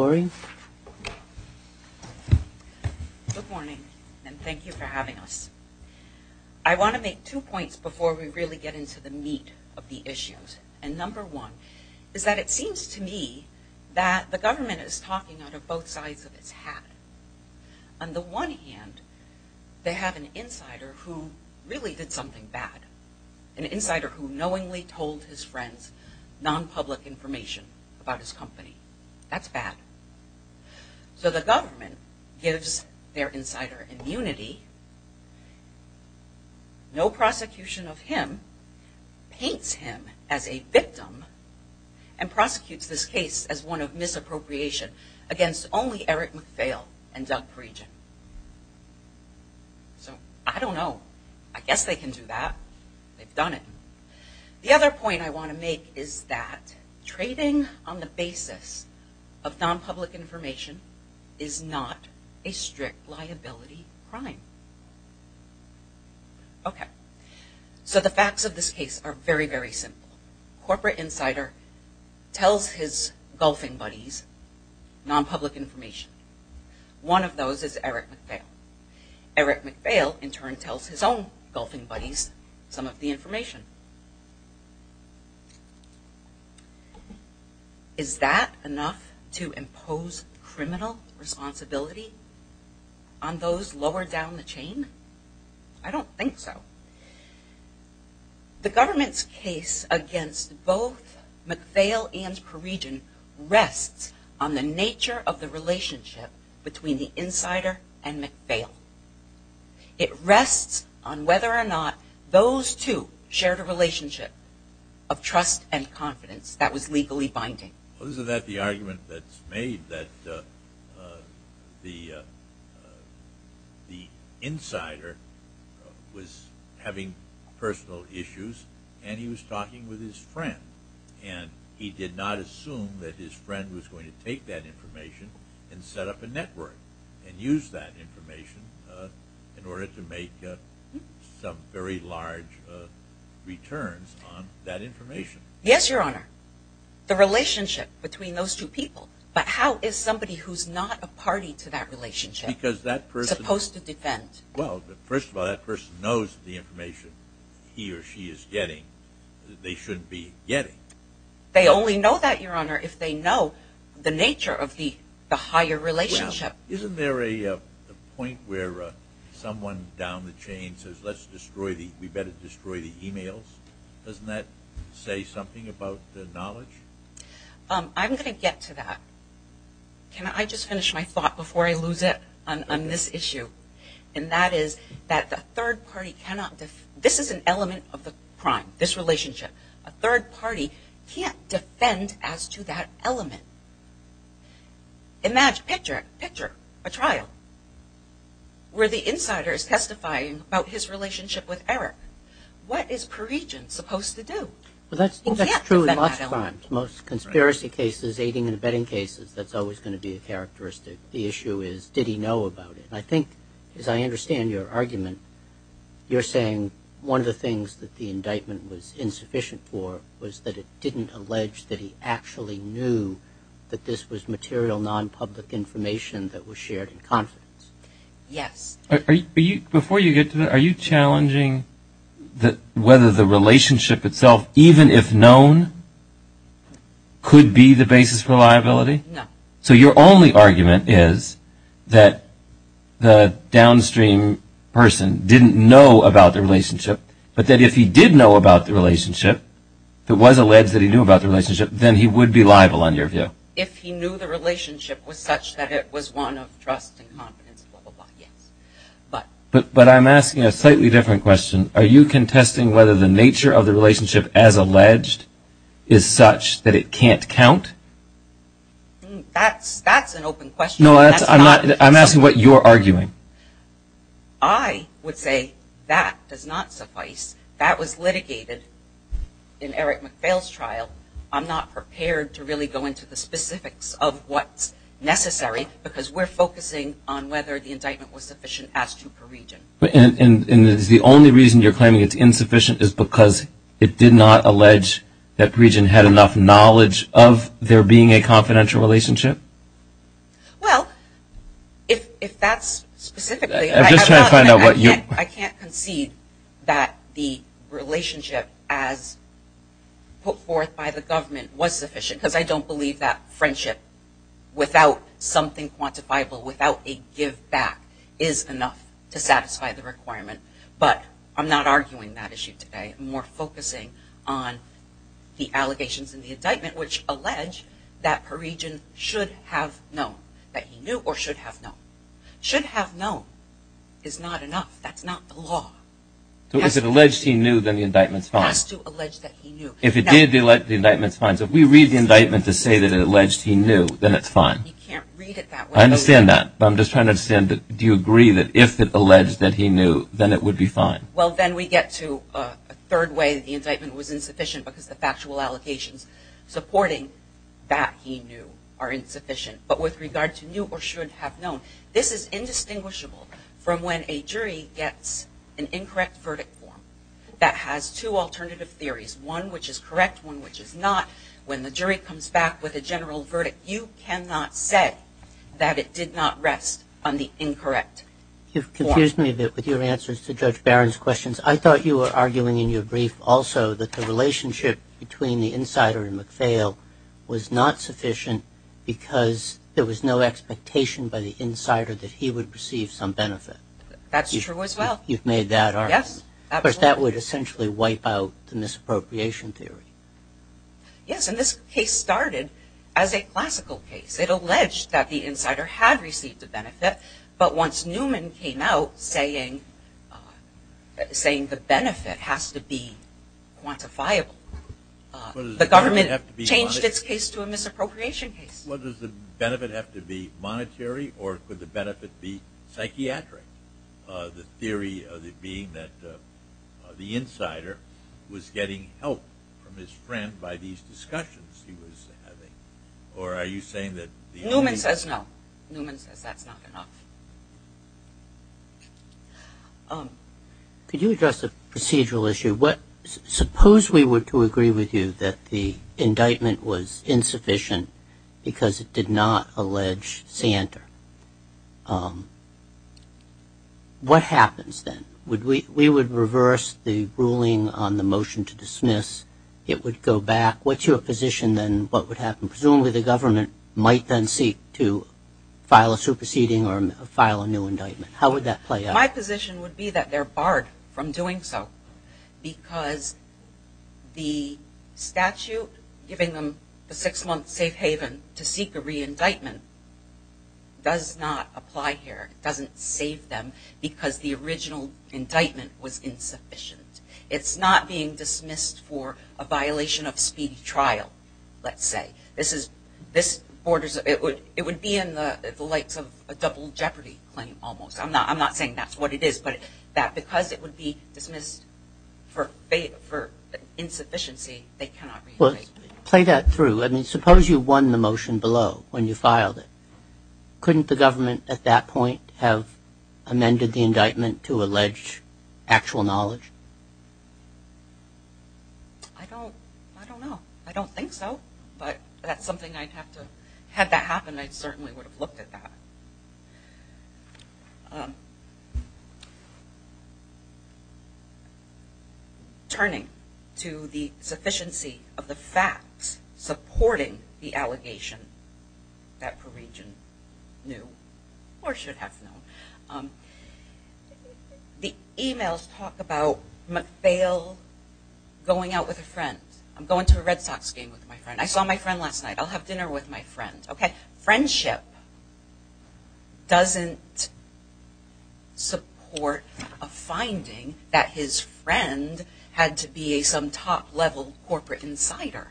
Good morning and thank you for having us. I want to make two points before we really get into the meat of the issues. And number one is that it seems to me that the government is talking out of both sides of its hat. On the one hand they have an insider who really did something bad. An insider who knowingly told his friends non-public information about his company. That's bad. So the government gives their insider immunity, no prosecution of him, paints him as a victim, and prosecutes this case as one of misappropriation against only Eric McPhail and Doug Parigian. So I don't know. I guess they can do that. They've done it. The other point I want to make is that trading on the basis of non-public information is not a strict liability crime. So the facts of this case are very very simple. Corporate insider tells his golfing buddies non-public information. One of those is Eric McPhail. Eric McPhail in turn tells his own golfing buddies some of the on those lower down the chain? I don't think so. The government's case against both McPhail and Parigian rests on the nature of the relationship between the insider and McPhail. It rests on whether or not those two shared a relationship of trust and confidence that was legally binding. Isn't that the argument that's made that the the insider was having personal issues and he was talking with his friend and he did not assume that his friend was going to take that information and set up a network and use that information in order to make some very large returns on that information? Yes, Your Honor. The relationship between those two people. But how is somebody who's not a party to that relationship supposed to defend? Well, first of all, that person knows the information he or she is getting that they shouldn't be getting. They only know that, Your Honor, if they know the nature of the higher relationship. Isn't there a point where someone down the chain says let's better destroy the emails? Doesn't that say something about the knowledge? I'm going to get to that. Can I just finish my thought before I lose it on this issue? And that is that the third party cannot defend. This is an element of the crime, this relationship. A third party can't defend as to that element. Imagine, picture a trial where the insider is testifying about his relationship with Eric. What is pre-regent supposed to do? Well, that's true in most crimes. Most conspiracy cases, aiding and abetting cases, that's always going to be a characteristic. The issue is did he know about it? I think, as I understand your argument, you're saying one of the things that the indictment was insufficient for was that it didn't allege that he actually knew that this was material, non-public information that was shared in confidence. Yes. Before you get to that, are you challenging whether the relationship itself, even if known, could be the basis for liability? No. So your only argument is that the downstream person didn't know about the relationship, but that if he did know about the relationship, if it was alleged that he knew about the relationship, then he would be liable, in your view? If he knew the relationship was such that it was one of trust and confidence, yes. But I'm asking a slightly different question. Are you contesting whether the nature of the relationship as alleged is such that it can't count? That's an open question. No, I'm asking what you're arguing. I would say that does not suffice. That was litigated in Eric Fales' trial. I'm not prepared to really go into the specifics of what's necessary because we're focusing on whether the indictment was sufficient as to Peregian. And is the only reason you're claiming it's insufficient is because it did not allege that Peregian had enough knowledge of there being a confidential relationship? Well, if that's specifically... I'm just trying to find out what you... I can't concede that the relationship as put forth by the government was sufficient because I don't believe that friendship without something quantifiable, without a give back, is enough to satisfy the requirement. But I'm not arguing that issue today. I'm more focusing on the allegations in the indictment which allege that Peregian should have known, that he knew or should have known. Should have known is not enough. That's not the law. So if it alleged he knew, then the indictment's fine. It has to allege that he knew. If it did, the indictment's fine. So if we read the indictment to say that it alleged he knew, then it's fine. You can't read it that way. I understand that, but I'm just trying to understand, do you agree that if it alleged that he knew, then it would be fine? Well, then we get to a third way that the indictment was insufficient because the factual allocations supporting that he knew are insufficient. But with the indictment, it's indistinguishable from when a jury gets an incorrect verdict form that has two alternative theories, one which is correct, one which is not. When the jury comes back with a general verdict, you cannot say that it did not rest on the incorrect form. You've confused me with your answers to Judge Barron's questions. I thought you were arguing in your brief also that the relationship between the insider and McPhail was not sufficient because there was no expectation by the insider that he would receive some benefit. That's true as well. You've made that argument. Yes. But that would essentially wipe out the misappropriation theory. Yes, and this case started as a classical case. It alleged that the insider had received a benefit, but once Newman came out saying the benefit has to be quantifiable, the government changed its case to a misappropriation case. Well, does the benefit have to be monetary, or could the benefit be psychiatric? The theory of it being that the insider was getting help from his friend by these discussions he was having, or are you saying that... Newman says no. Newman says that's not enough. Could you address the procedural issue? Suppose we were to agree with you that the indictment was insufficient because it did not allege Santer. What happens then? We would reverse the ruling on the motion to dismiss. It would go back. What's your position then what would happen? Presumably the government might then seek to file a superseding or file a new indictment. How would that play out? My position would be that they're barred from doing so because the statute giving them the six-month safe haven to seek a re-indictment does not apply here. It doesn't save them because the original indictment was insufficient. It's not being dismissed for a violation of speedy trial, let's say. This borders, it would be in the likes of a double jeopardy claim almost. I'm not saying that's what it is, but that because it would be for insufficiency they cannot re-indict. Well play that through. I mean suppose you won the motion below when you filed it. Couldn't the government at that point have amended the indictment to allege actual knowledge? I don't know. I don't think so, but that's something I'd have to, had that happened, I certainly would have looked at that. Turning to the sufficiency of the facts supporting the allegation that Perugin knew, or should have known, the emails talk about McPhail going out with a friend. I'm going to a Red Sox game with my friend. I saw my friend last doesn't support a finding that his friend had to be a some top-level corporate insider.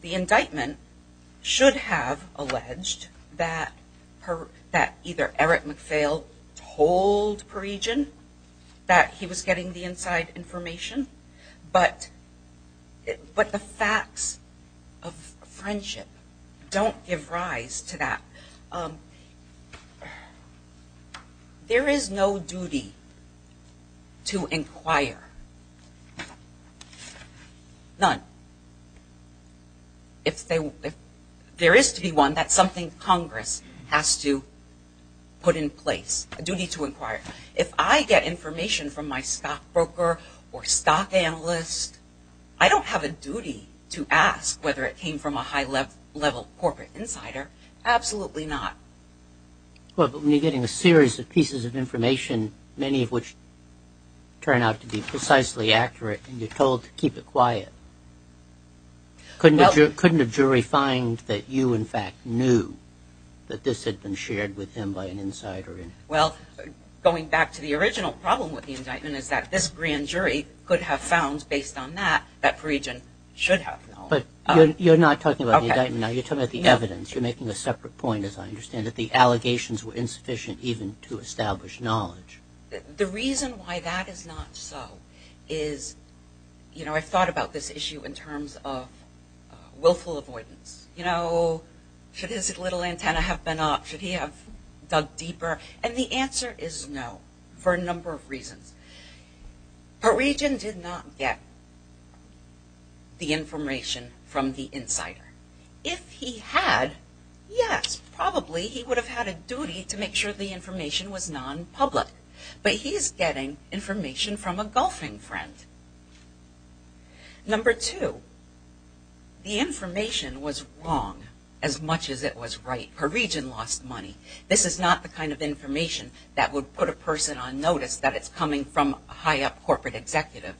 The indictment should have alleged that either Eric McPhail told Perugin that he was getting the inside information, but but the facts of friendship don't give rise to that. There is no duty to inquire. None. If there is to be one, that's something Congress has to put in place. If I get information from my stockbroker or stock analyst, I don't have a duty to ask whether it came from a high-level corporate insider. Absolutely not. But when you're getting a series of pieces of information, many of which turn out to be precisely accurate, and you're told to keep it quiet, couldn't a jury find that you in fact knew that this had been shared with him by an insider? Well, going back to the original problem with the indictment is that this grand jury could have found, based on that, that Perugin should have known. But you're not talking about the evidence. You're making a separate point, as I understand, that the allegations were insufficient even to establish knowledge. The reason why that is not so is, you know, I've thought about this issue in terms of willful avoidance. You know, should his little antenna have been up? Should he have dug deeper? And the answer is no, for a number of reasons. Perugin did not get the information from the insider. If he had, yes, probably he would have had a duty to make sure the information was non-public. But he's getting information from a golfing friend. Number two, the information was wrong as much as it was right. Perugin lost money. This is not the kind of information that would put a person on notice that it's coming from a high up corporate executive.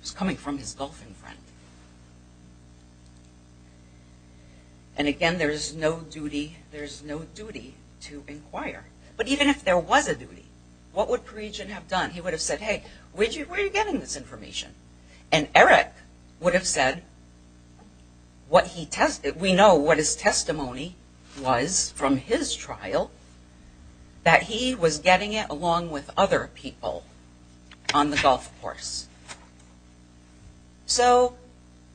It's coming from his golfing friend. And again, there's no duty, there's no duty to inquire. But even if there was a duty, what would Perugin have done? He would have said, hey, where are you getting this what he tested? We know what his testimony was from his trial, that he was getting it along with other people on the golf course. So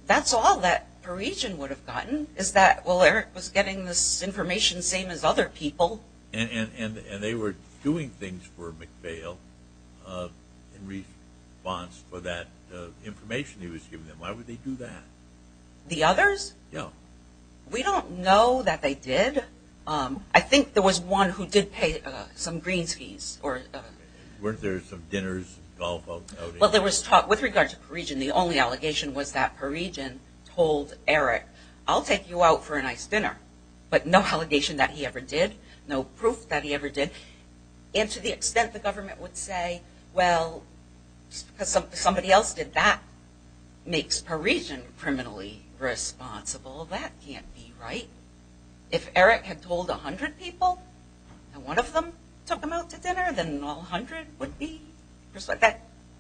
that's all that Perugin would have gotten is that, well, Eric was getting this information same as other people. And they were doing things for McVale in response for that information he was getting. The others? No. We don't know that they did. I think there was one who did pay some greens fees. Weren't there some dinners, golf outings? Well, there was talk with regard to Perugin. The only allegation was that Perugin told Eric, I'll take you out for a nice dinner. But no allegation that he ever did. No proof that he ever did. And to the extent the government would say, well, because somebody else did that, makes Perugin criminally responsible. That can't be right. If Eric had told 100 people, and one of them took him out to dinner, then all 100 would be?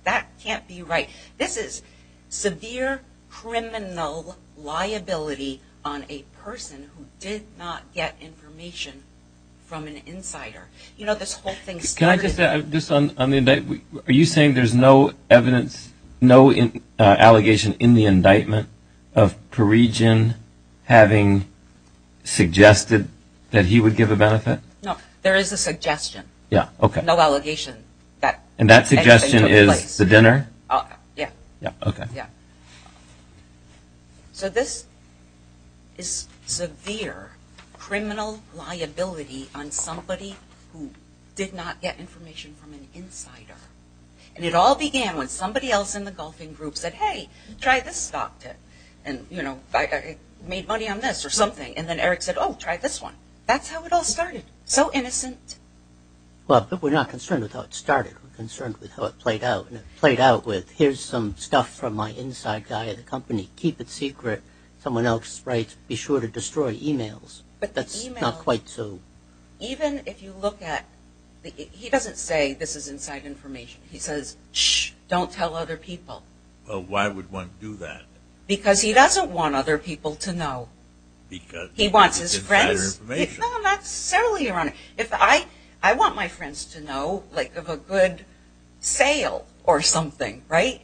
That can't be right. This is severe criminal liability on a person who did not get information from an insider. You know, this whole thing started. Can I just add this on the indictment? Are you saying there's no evidence, no allegation in the indictment of Perugin having suggested that he would give a benefit? No, there is a suggestion. No allegation that anything took place. And that suggestion is the dinner? Yeah. Yeah, okay. Yeah. So this is severe criminal liability on somebody who did not get information from an insider. And it all began when somebody else in the golfing group said, hey, try this stock tip. And you know, I made money on this or something. And then Eric said, Oh, try this one. That's how it all started. So innocent. Well, but we're not concerned with how it started. We're concerned with how it played out with here's some stuff from my inside guy at the company, keep it secret. Someone else writes, be sure to destroy emails. But that's not quite so. Even if you look at it, he doesn't say this is inside information. He says, don't tell other people. Well, why would one do that? Because he doesn't want other people to know. Because he wants his friends. That's certainly ironic. If I, I want my friends to know like of a good sale or something, right.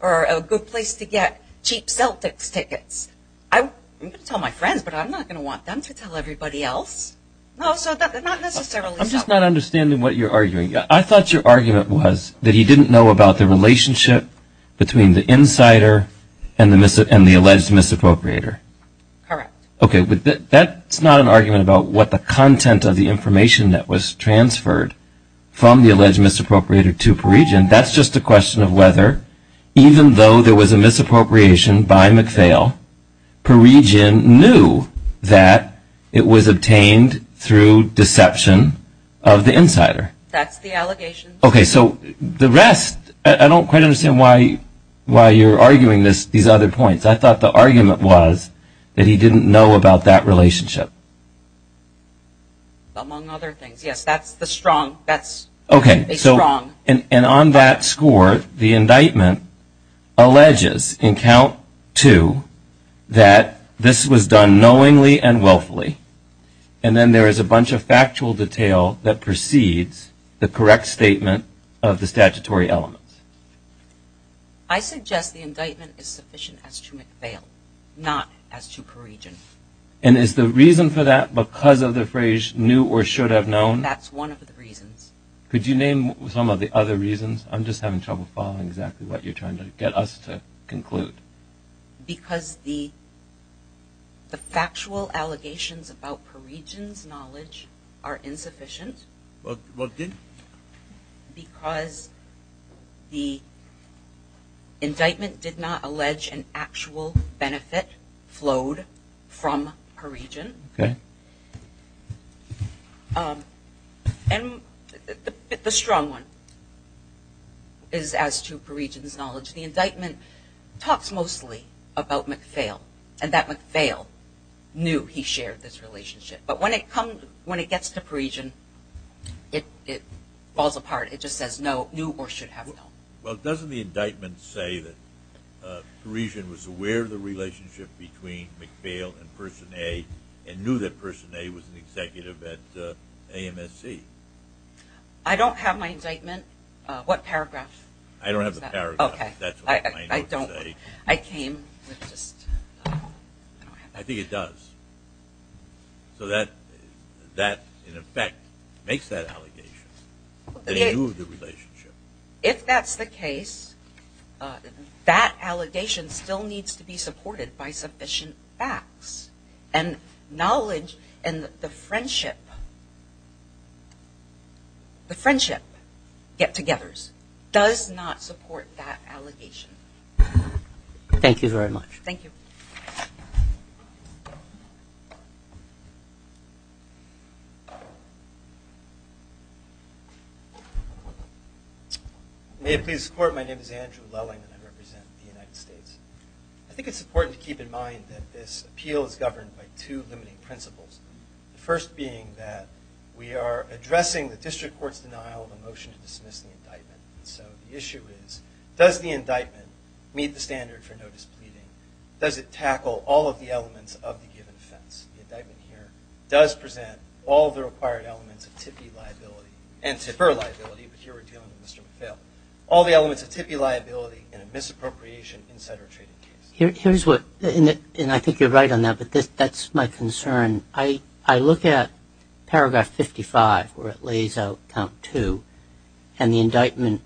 Or a good place to get cheap Celtics tickets. I'm going to tell my friends, but I'm not going to want them to tell everybody else. No, so that's not necessarily I'm just not understanding what you're arguing. I thought your argument was that he didn't know about the relationship between the insider and the alleged misappropriator. Okay. But that's not an argument about what the content of the information that was transferred from the alleged misappropriator to per region. That's just a question of whether, even though there was a misappropriation by McPhail per region knew that it was obtained through deception of the insider. That's the allegation. Okay. So the rest, I don't quite understand why, why you're arguing this, these other points. I thought the argument was that he didn't know about that relationship. Among other things. Yes, that's the strong, that's okay. So and on that score, the indictment alleges in count two that this was done knowingly and willfully. And then there is a bunch of factual detail that precedes the correct statement of the statutory elements. Okay. I suggest the indictment is sufficient as to McPhail, not as to per region. And is the reason for that because of the phrase knew or should have known? That's one of the reasons. Could you name some of the other reasons? I'm just having trouble following exactly what you're trying to get us to conclude. Because the, the factual allegations about per regions knowledge are insufficient. But what did? Because the indictment did not allege an actual benefit flowed from per region. And the strong one is as to per regions knowledge. The indictment talks mostly about McPhail and that McPhail knew he shared this relationship. But when it comes, when it gets to per region, it, it falls apart. It just says no new or should have known. Well, doesn't the indictment say that a region was aware of the relationship between McPhail and person a and knew that person a was an executive at a MSC. I don't have my indictment. What paragraph? I don't have the paragraph. That's what I don't say. I came with just, I think it does. Okay. So that, that in effect makes that allegation. They knew the relationship. If that's the case, that allegation still needs to be supported by sufficient facts and knowledge and the friendship, the friendship get togethers does not support that allegation. Thank you very much. Thank you. Thank you. May it please the court. My name is Andrew Lelling and I represent the United States. I think it's important to keep in mind that this appeal is governed by two limiting principles. The first being that we are addressing the district court's denial of a motion to dismiss the indictment. So the issue is does the indictment meet the standard for notice pleading? Does it tackle all of the elements of the given offense? The indictment here does present all the required elements of tippy liability and tipper liability, but here we're dealing with Mr. McPhail, all the elements of tippy liability and a misappropriation, et cetera, trading case. Here's what, and I think you're right on that, but this, that's my concern. I, I look at paragraph 55 where it lays out count two and the indictment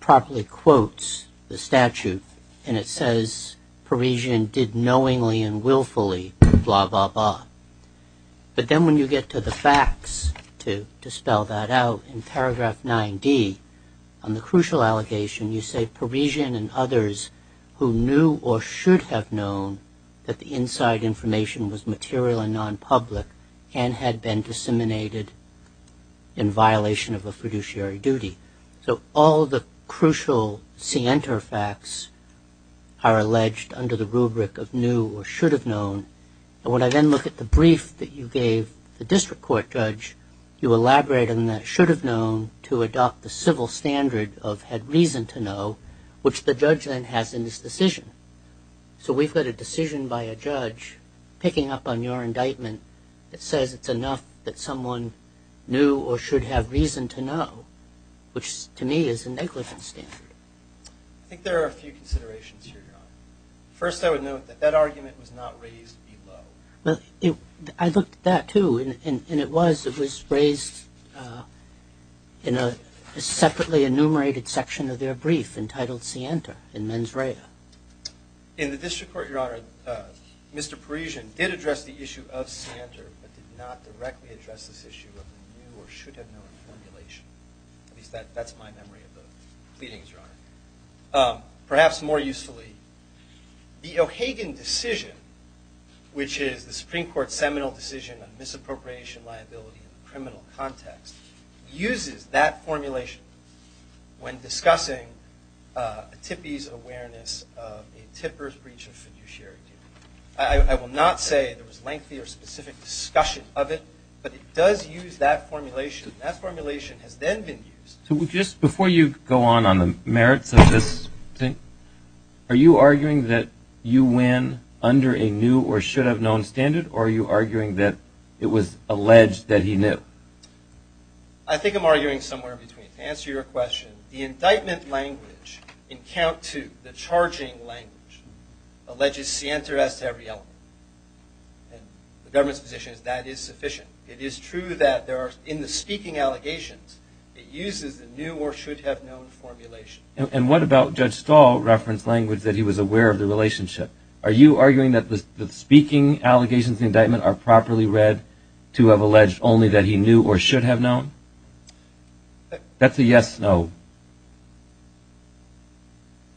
properly quotes the statute and it says Parisian did knowingly and willfully blah, blah, blah. But then when you get to the facts to dispel that out in paragraph nine D on the crucial allegation, you say Parisian and others who knew or should have known that the inside information was material and non public and had been disseminated in violation of a fiduciary duty. So all the crucial center facts are alleged under the rubric of new or should have known. And when I then look at the brief that you gave the district court judge, you elaborate on that should have known to adopt the civil standard of had reason to know which the judge then has in this decision. So we've got a decision by a judge picking up on your indictment that says it's enough that someone knew or should have reason to know. Which to me is a negligent standard. I think there are a few considerations here. First, I would note that that argument was not raised below. Well, I looked at that too and it was, it was raised in a separately enumerated section of their brief entitled Sienta in mens rea. In the district court, your honor, Mr Parisian did address the issue of Sienta but did not directly address this issue of the new or should have known formulation. At least that, that's my memory of the pleadings, your honor. Perhaps more usefully, the O'Hagan decision, which is the Supreme Court seminal decision on misappropriation, liability and criminal context, uses that formulation when discussing a tippy's awareness of a tipper's breach of fiduciary duty. I will not say there was lengthy or specific discussion of it, but it does use that formulation. That formulation has then been used. So just before you go on on the merits of this thing, are you arguing that you win under a new or should have known standard or are you arguing that it was alleged that he knew? I think I'm arguing somewhere between. To answer your question, the indictment language in count two, the charging language, alleges Sienta as to every element and the government's position is that is sufficient. It is true that there are in the speaking allegations, it uses the new or should have known formulation. And what about judge stall reference language that he was aware of the relationship? Are you arguing that the speaking allegations indictment are properly read to have alleged only that he knew or should have known? That's a yes. No.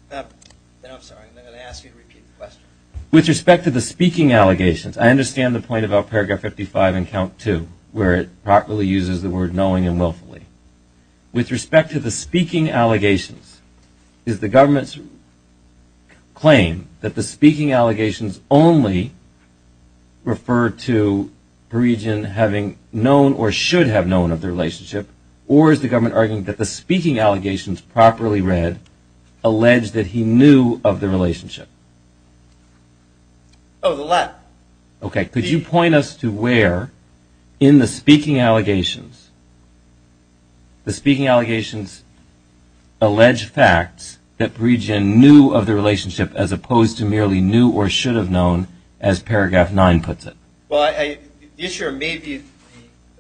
Then I'm sorry. I'm going to ask you to repeat the question with respect to the speaking allegations. I understand the point about paragraph 55 and count to where it properly uses the word knowing and willfully with respect to the speaking allegations is the government's claim that the speaking allegations only refer to the region having known or should have known of the relationship or is the government arguing that the speaking allegations properly read alleged that he knew of the relationship? Oh, the left. Okay. Could you point us to where in the speaking allegations, the speaking allegations, alleged facts that region knew of the relationship as opposed to merely knew or should have known as paragraph nine puts it. Well, I, I, the issue of maybe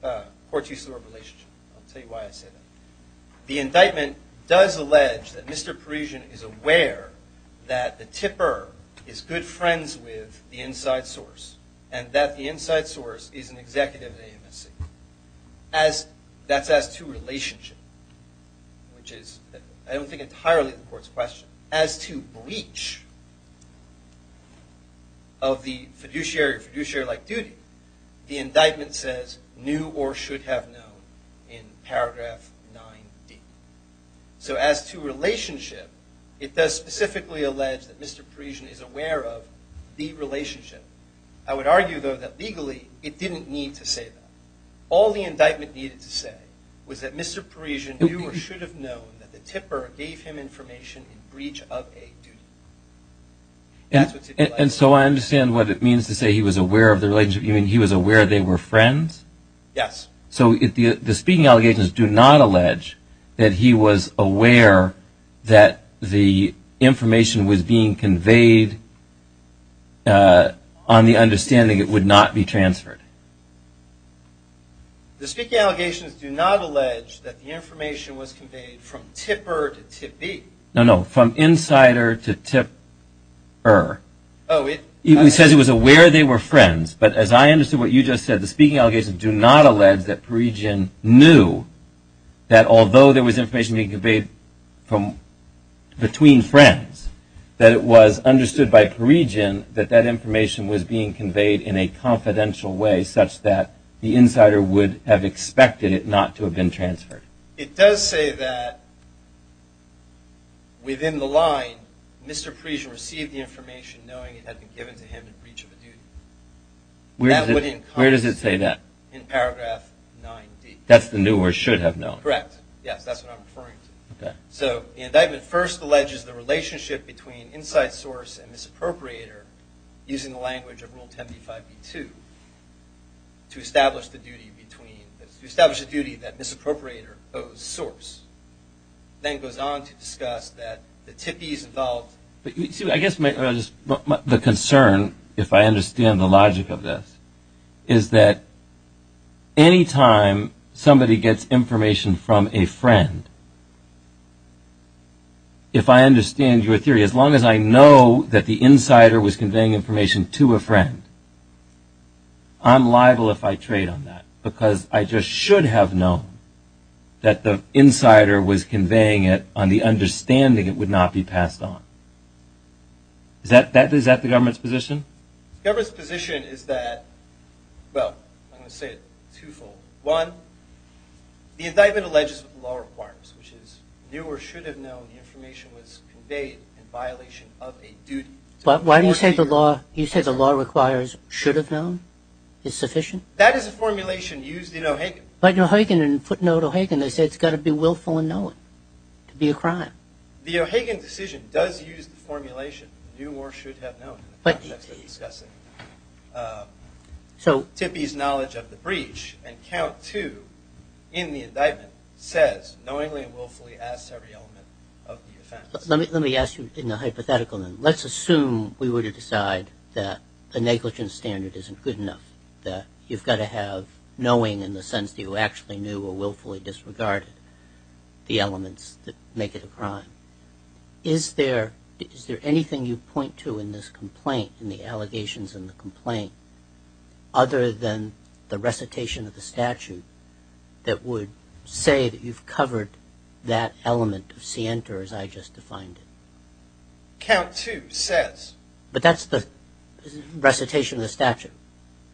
the, uh, court use of the word relationship. I'll tell you why I said that the indictment does allege that Mr Parisian is aware that the tipper is good friends with the inside source and that the inside source is an executive at AMSC as that's as to relationship, which is, I don't think entirely the court's question as to breach of the fiduciary fiduciary like duty. The indictment says new or should have known in paragraph nine D. So as to relationship, it does specifically allege that Mr Parisian is aware of the relationship. I would argue though that legally it didn't need to say that all the indictment needed to say was that Mr Parisian knew or should have known that the tipper gave him information in breach of a duty. And so I understand what it means to say he was aware of the relationship. You mean he was aware they were friends? Yes. So if the, the speaking allegations do not allege that he was aware that the information was being conveyed, uh, on the understanding it would not be transferred. The speaking allegations do not allege that the information was conveyed from tipper to tip B. No, no. From insider to tip her. Oh, it, he says he was aware they were friends. But as I understood what you just said, the speaking allegations do not allege that Parisian knew that although there was information being conveyed from between friends, that it was understood by Parisian, that that information was being conveyed in a confidential way such that the insider would have expected it not to have been transferred. It does say that within the line, Mr Parisian received the information knowing it had been given to him in paragraph nine D that's the new or should have known. Correct. Yes. That's what I'm referring to. Okay. So the indictment first alleges the relationship between inside source and misappropriator using the language of rule 10 B five B two to establish the duty between establish a duty that misappropriator owes source. Then it goes on to discuss that the tippies involved, but you see, I guess the concern, if I understand the logic of this is that anytime somebody gets information from a friend, if I understand your theory, as long as I know that the insider was conveying information to a friend, I'm liable if I trade on that because I just should have known that the insider was conveying it on the understanding it would not be passed on. Is that, is that the government's position? Government's position is that, well, I'm going to say it twofold. One, the indictment alleges law requires, which is new or should have known. The information was conveyed in violation of a duty. But why do you say the law? You said the law requires should have known. It's sufficient. That is a formulation used in O'Hagan. But O'Hagan and footnote O'Hagan, they said it's got to be willful and know it to be a crime. The O'Hagan decision does use the formulation new or should have known, but that's what he's discussing. So Tippie's knowledge of the breach and count two in the indictment says knowingly and willfully as every element of the offense. Let me, let me ask you in the hypothetical, then let's assume we were to decide that a negligence standard isn't good enough that you've got to have knowing in the sense that you actually knew or willfully disregarded the elements that make it a crime. Is there, is there anything you point to in this complaint and the allegations in the complaint other than the recitation of the statute that would say that you've covered that element of Sienta as I just defined it? Count two says, but that's the recitation of the statute,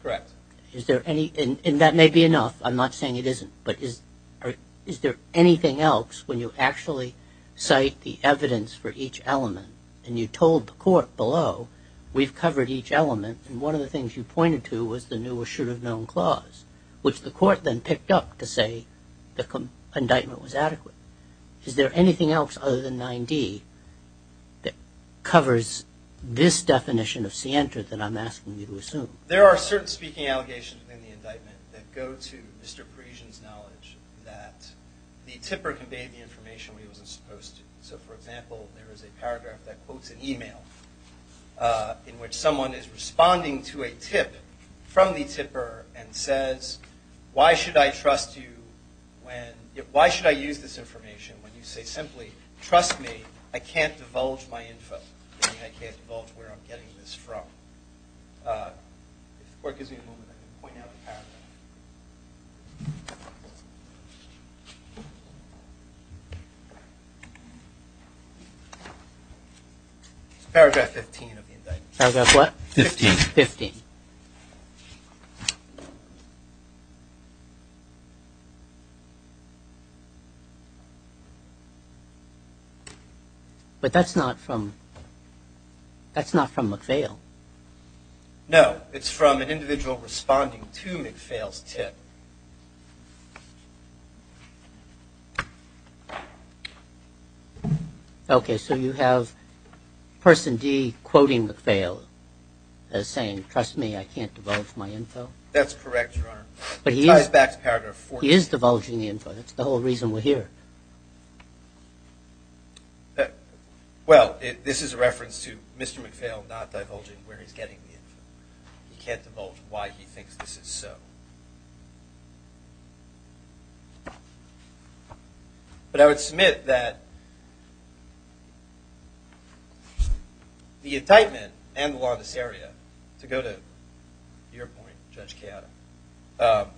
correct? Is there any, and that may be enough. I'm not saying it isn't, but is, is there anything else when you actually cite the evidence for each element and you told the court below, we've covered each element and one of the things you pointed to was the new or should have known clause, which the court then picked up to say the indictment was adequate. Is there anything else other than 9d that covers this definition of Sienta that I'm asking you to assume? There are certain speaking allegations in the indictment that go to Mr. Sienta that the tipper conveyed the information where he wasn't supposed to. So for example, there is a paragraph that quotes an email in which someone is responding to a tip from the tipper and says, why should I trust you when, why should I use this information when you say simply, trust me, I can't divulge my info. I can't divulge where I'm getting this from. Okay. Paragraph 15 of the indictment. But that's not from, that's not from a fail. No, it's from an individual responding to Nick fails tip. Okay. So you have person D quoting the fail as saying, trust me, I can't divulge my info. That's correct. But he is divulging the info. That's the whole reason we're here. Well, this is a reference to Mr. McPhail, not divulging where he's getting it. He can't divulge why he thinks this is so true. But I would submit that the indictment and the law in this area to go to your point, Judge Keada,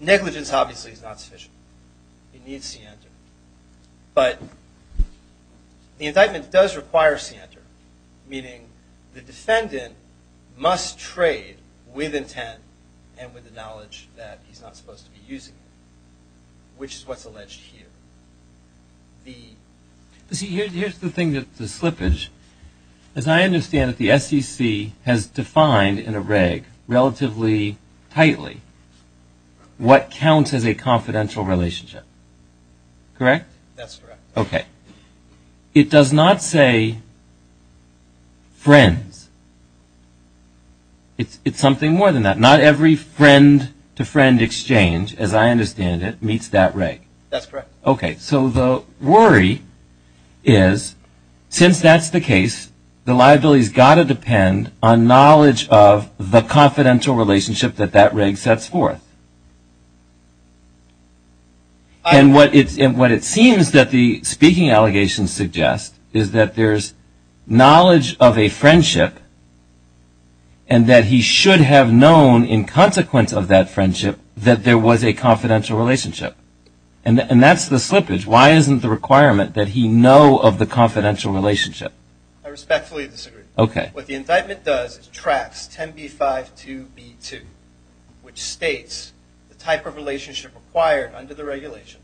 negligence obviously is not sufficient. He needs to enter, but the indictment does require C enter, meaning the defendant must trade with intent and with the knowledge that he's not supposed to be using it, which is what's alleged here. The C here's, here's the thing that the slippage, as I understand that the sec has defined in a reg relatively tightly, what counts as a confidential relationship, correct? That's correct. Okay. It does not say friends. It's something more than that. Not every friend to friend exchange, as I understand it, meets that reg. That's correct. Okay. So the worry is since that's the case, the liability has got to depend on knowledge of the confidential relationship that that reg sets forth. And what it's, and what it seems that the speaking allegations suggest is that there's knowledge of a friendship and that he should have known in consequence of that friendship that there was a confidential relationship. And that's the slippage. Why isn't the requirement that he know of the confidential relationship? I respectfully disagree. Okay. What the indictment does is tracks 10B5 2B2, which states the type of relationship required under the regulation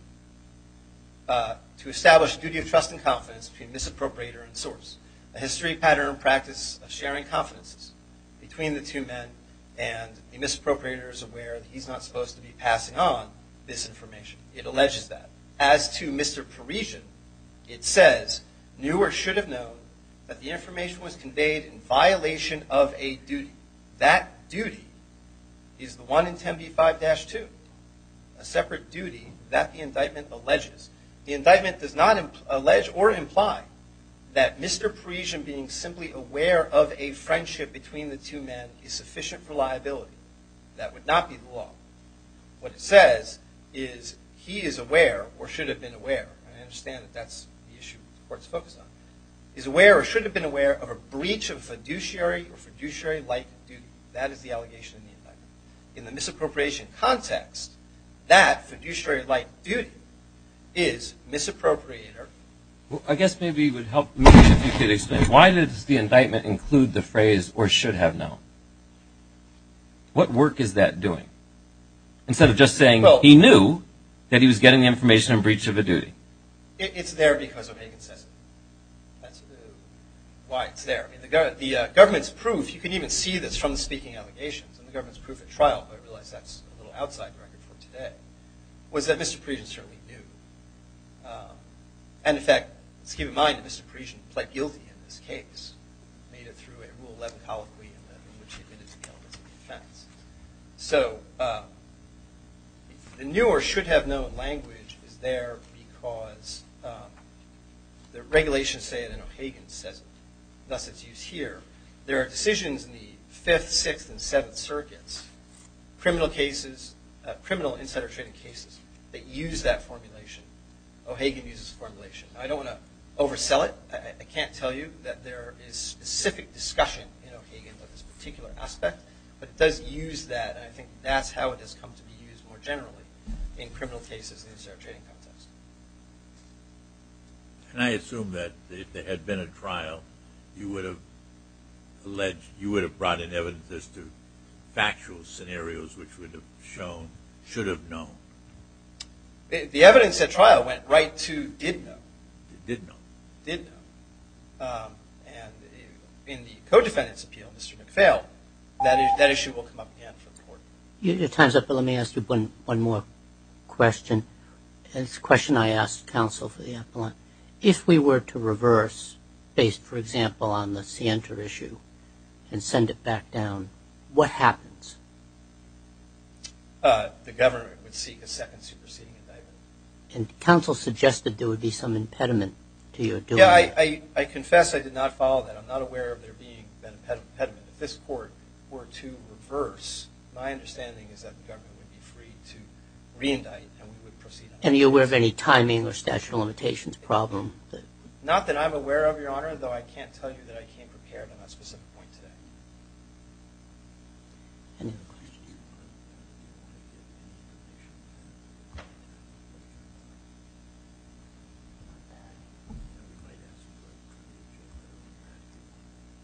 a history pattern practice of sharing confidences between the two men and the misappropriators aware that he's not supposed to be passing on this information. It alleges that. As to Mr. Parisian, it says knew or should have known that the information was conveyed in violation of a duty. That duty is the one in 10B5-2, a separate duty that the indictment alleges. The indictment does not allege or imply that Mr. Parisian being simply aware of a friendship between the two men is sufficient for liability. That would not be the law. What it says is he is aware or should have been aware. And I understand that that's the issue the court's focused on. Is aware or should have been aware of a breach of fiduciary or fiduciary like duty. That is the allegation in the indictment. In the misappropriation context, that fiduciary like duty is misappropriator. I guess maybe it would help me if you could explain why does the indictment include the phrase or should have known? What work is that doing? Instead of just saying he knew that he was getting the information in breach of a duty. It's there because of inconsistency. That's why it's there. The government's proof, you can even see this from the speaking allegations and the government's proof at today was that Mr. Parisian certainly knew. And in fact, let's keep in mind that Mr. Parisian pled guilty in this case, made it through a rule 11 colloquy in which he admitted to the elements of defense. So the new or should have known language is there because the regulations say it in O'Hagan says, thus it's used here. There are decisions in the fifth, sixth and seventh circuits, criminal cases, criminal insider trading cases that use that formulation. O'Hagan uses formulation. I don't want to oversell it. I can't tell you that there is specific discussion in O'Hagan about this particular aspect, but it does use that. I think that's how it has come to be used more generally in criminal cases, the insider trading context. Can I assume that if there had been a trial, you would have alleged, you would have brought in evidence as to factual scenarios, which would have shown, should have known. The evidence at trial went right to, did know, did know, did know. And in the co-defendants appeal, Mr. McPhail, that issue will come up again for the court. Your time's up, but let me ask you one more question. And it's a question I asked counsel for the appellant. If we were to reverse based, for example, on the Sienta issue, and send it back down, what happens? The government would seek a second superseding indictment. And counsel suggested there would be some impediment to your doing. Yeah, I confess I did not follow that. I'm not aware of there being an impediment. If this court were to reverse, my understanding is that the government would be free to re-indict and we would proceed. And are you aware of any timing or statute of limitations problem? Not that I'm aware of, Your Honor, though I can't tell you that I came prepared on that specific point today.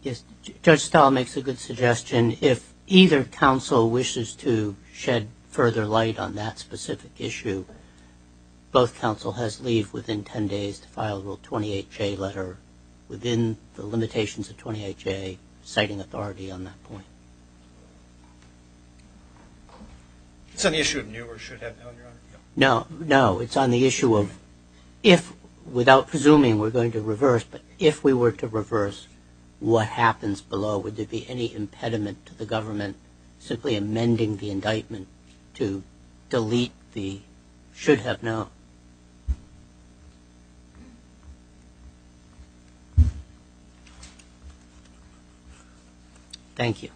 Yes, Judge Stahl makes a good suggestion. If either counsel wishes to shed further light on that specific issue, both counsel has leave within 10 days to file a Rule 28-J letter within the limitations of 28-J, citing authority on that point. It's an issue of new or should have been, Your Honor? No, no, it's on the issue of if, without presuming we're going to reverse, but if we were to reverse, what happens below? Would there be any impediment to the government simply amending the indictment to delete the should have known? Thank you.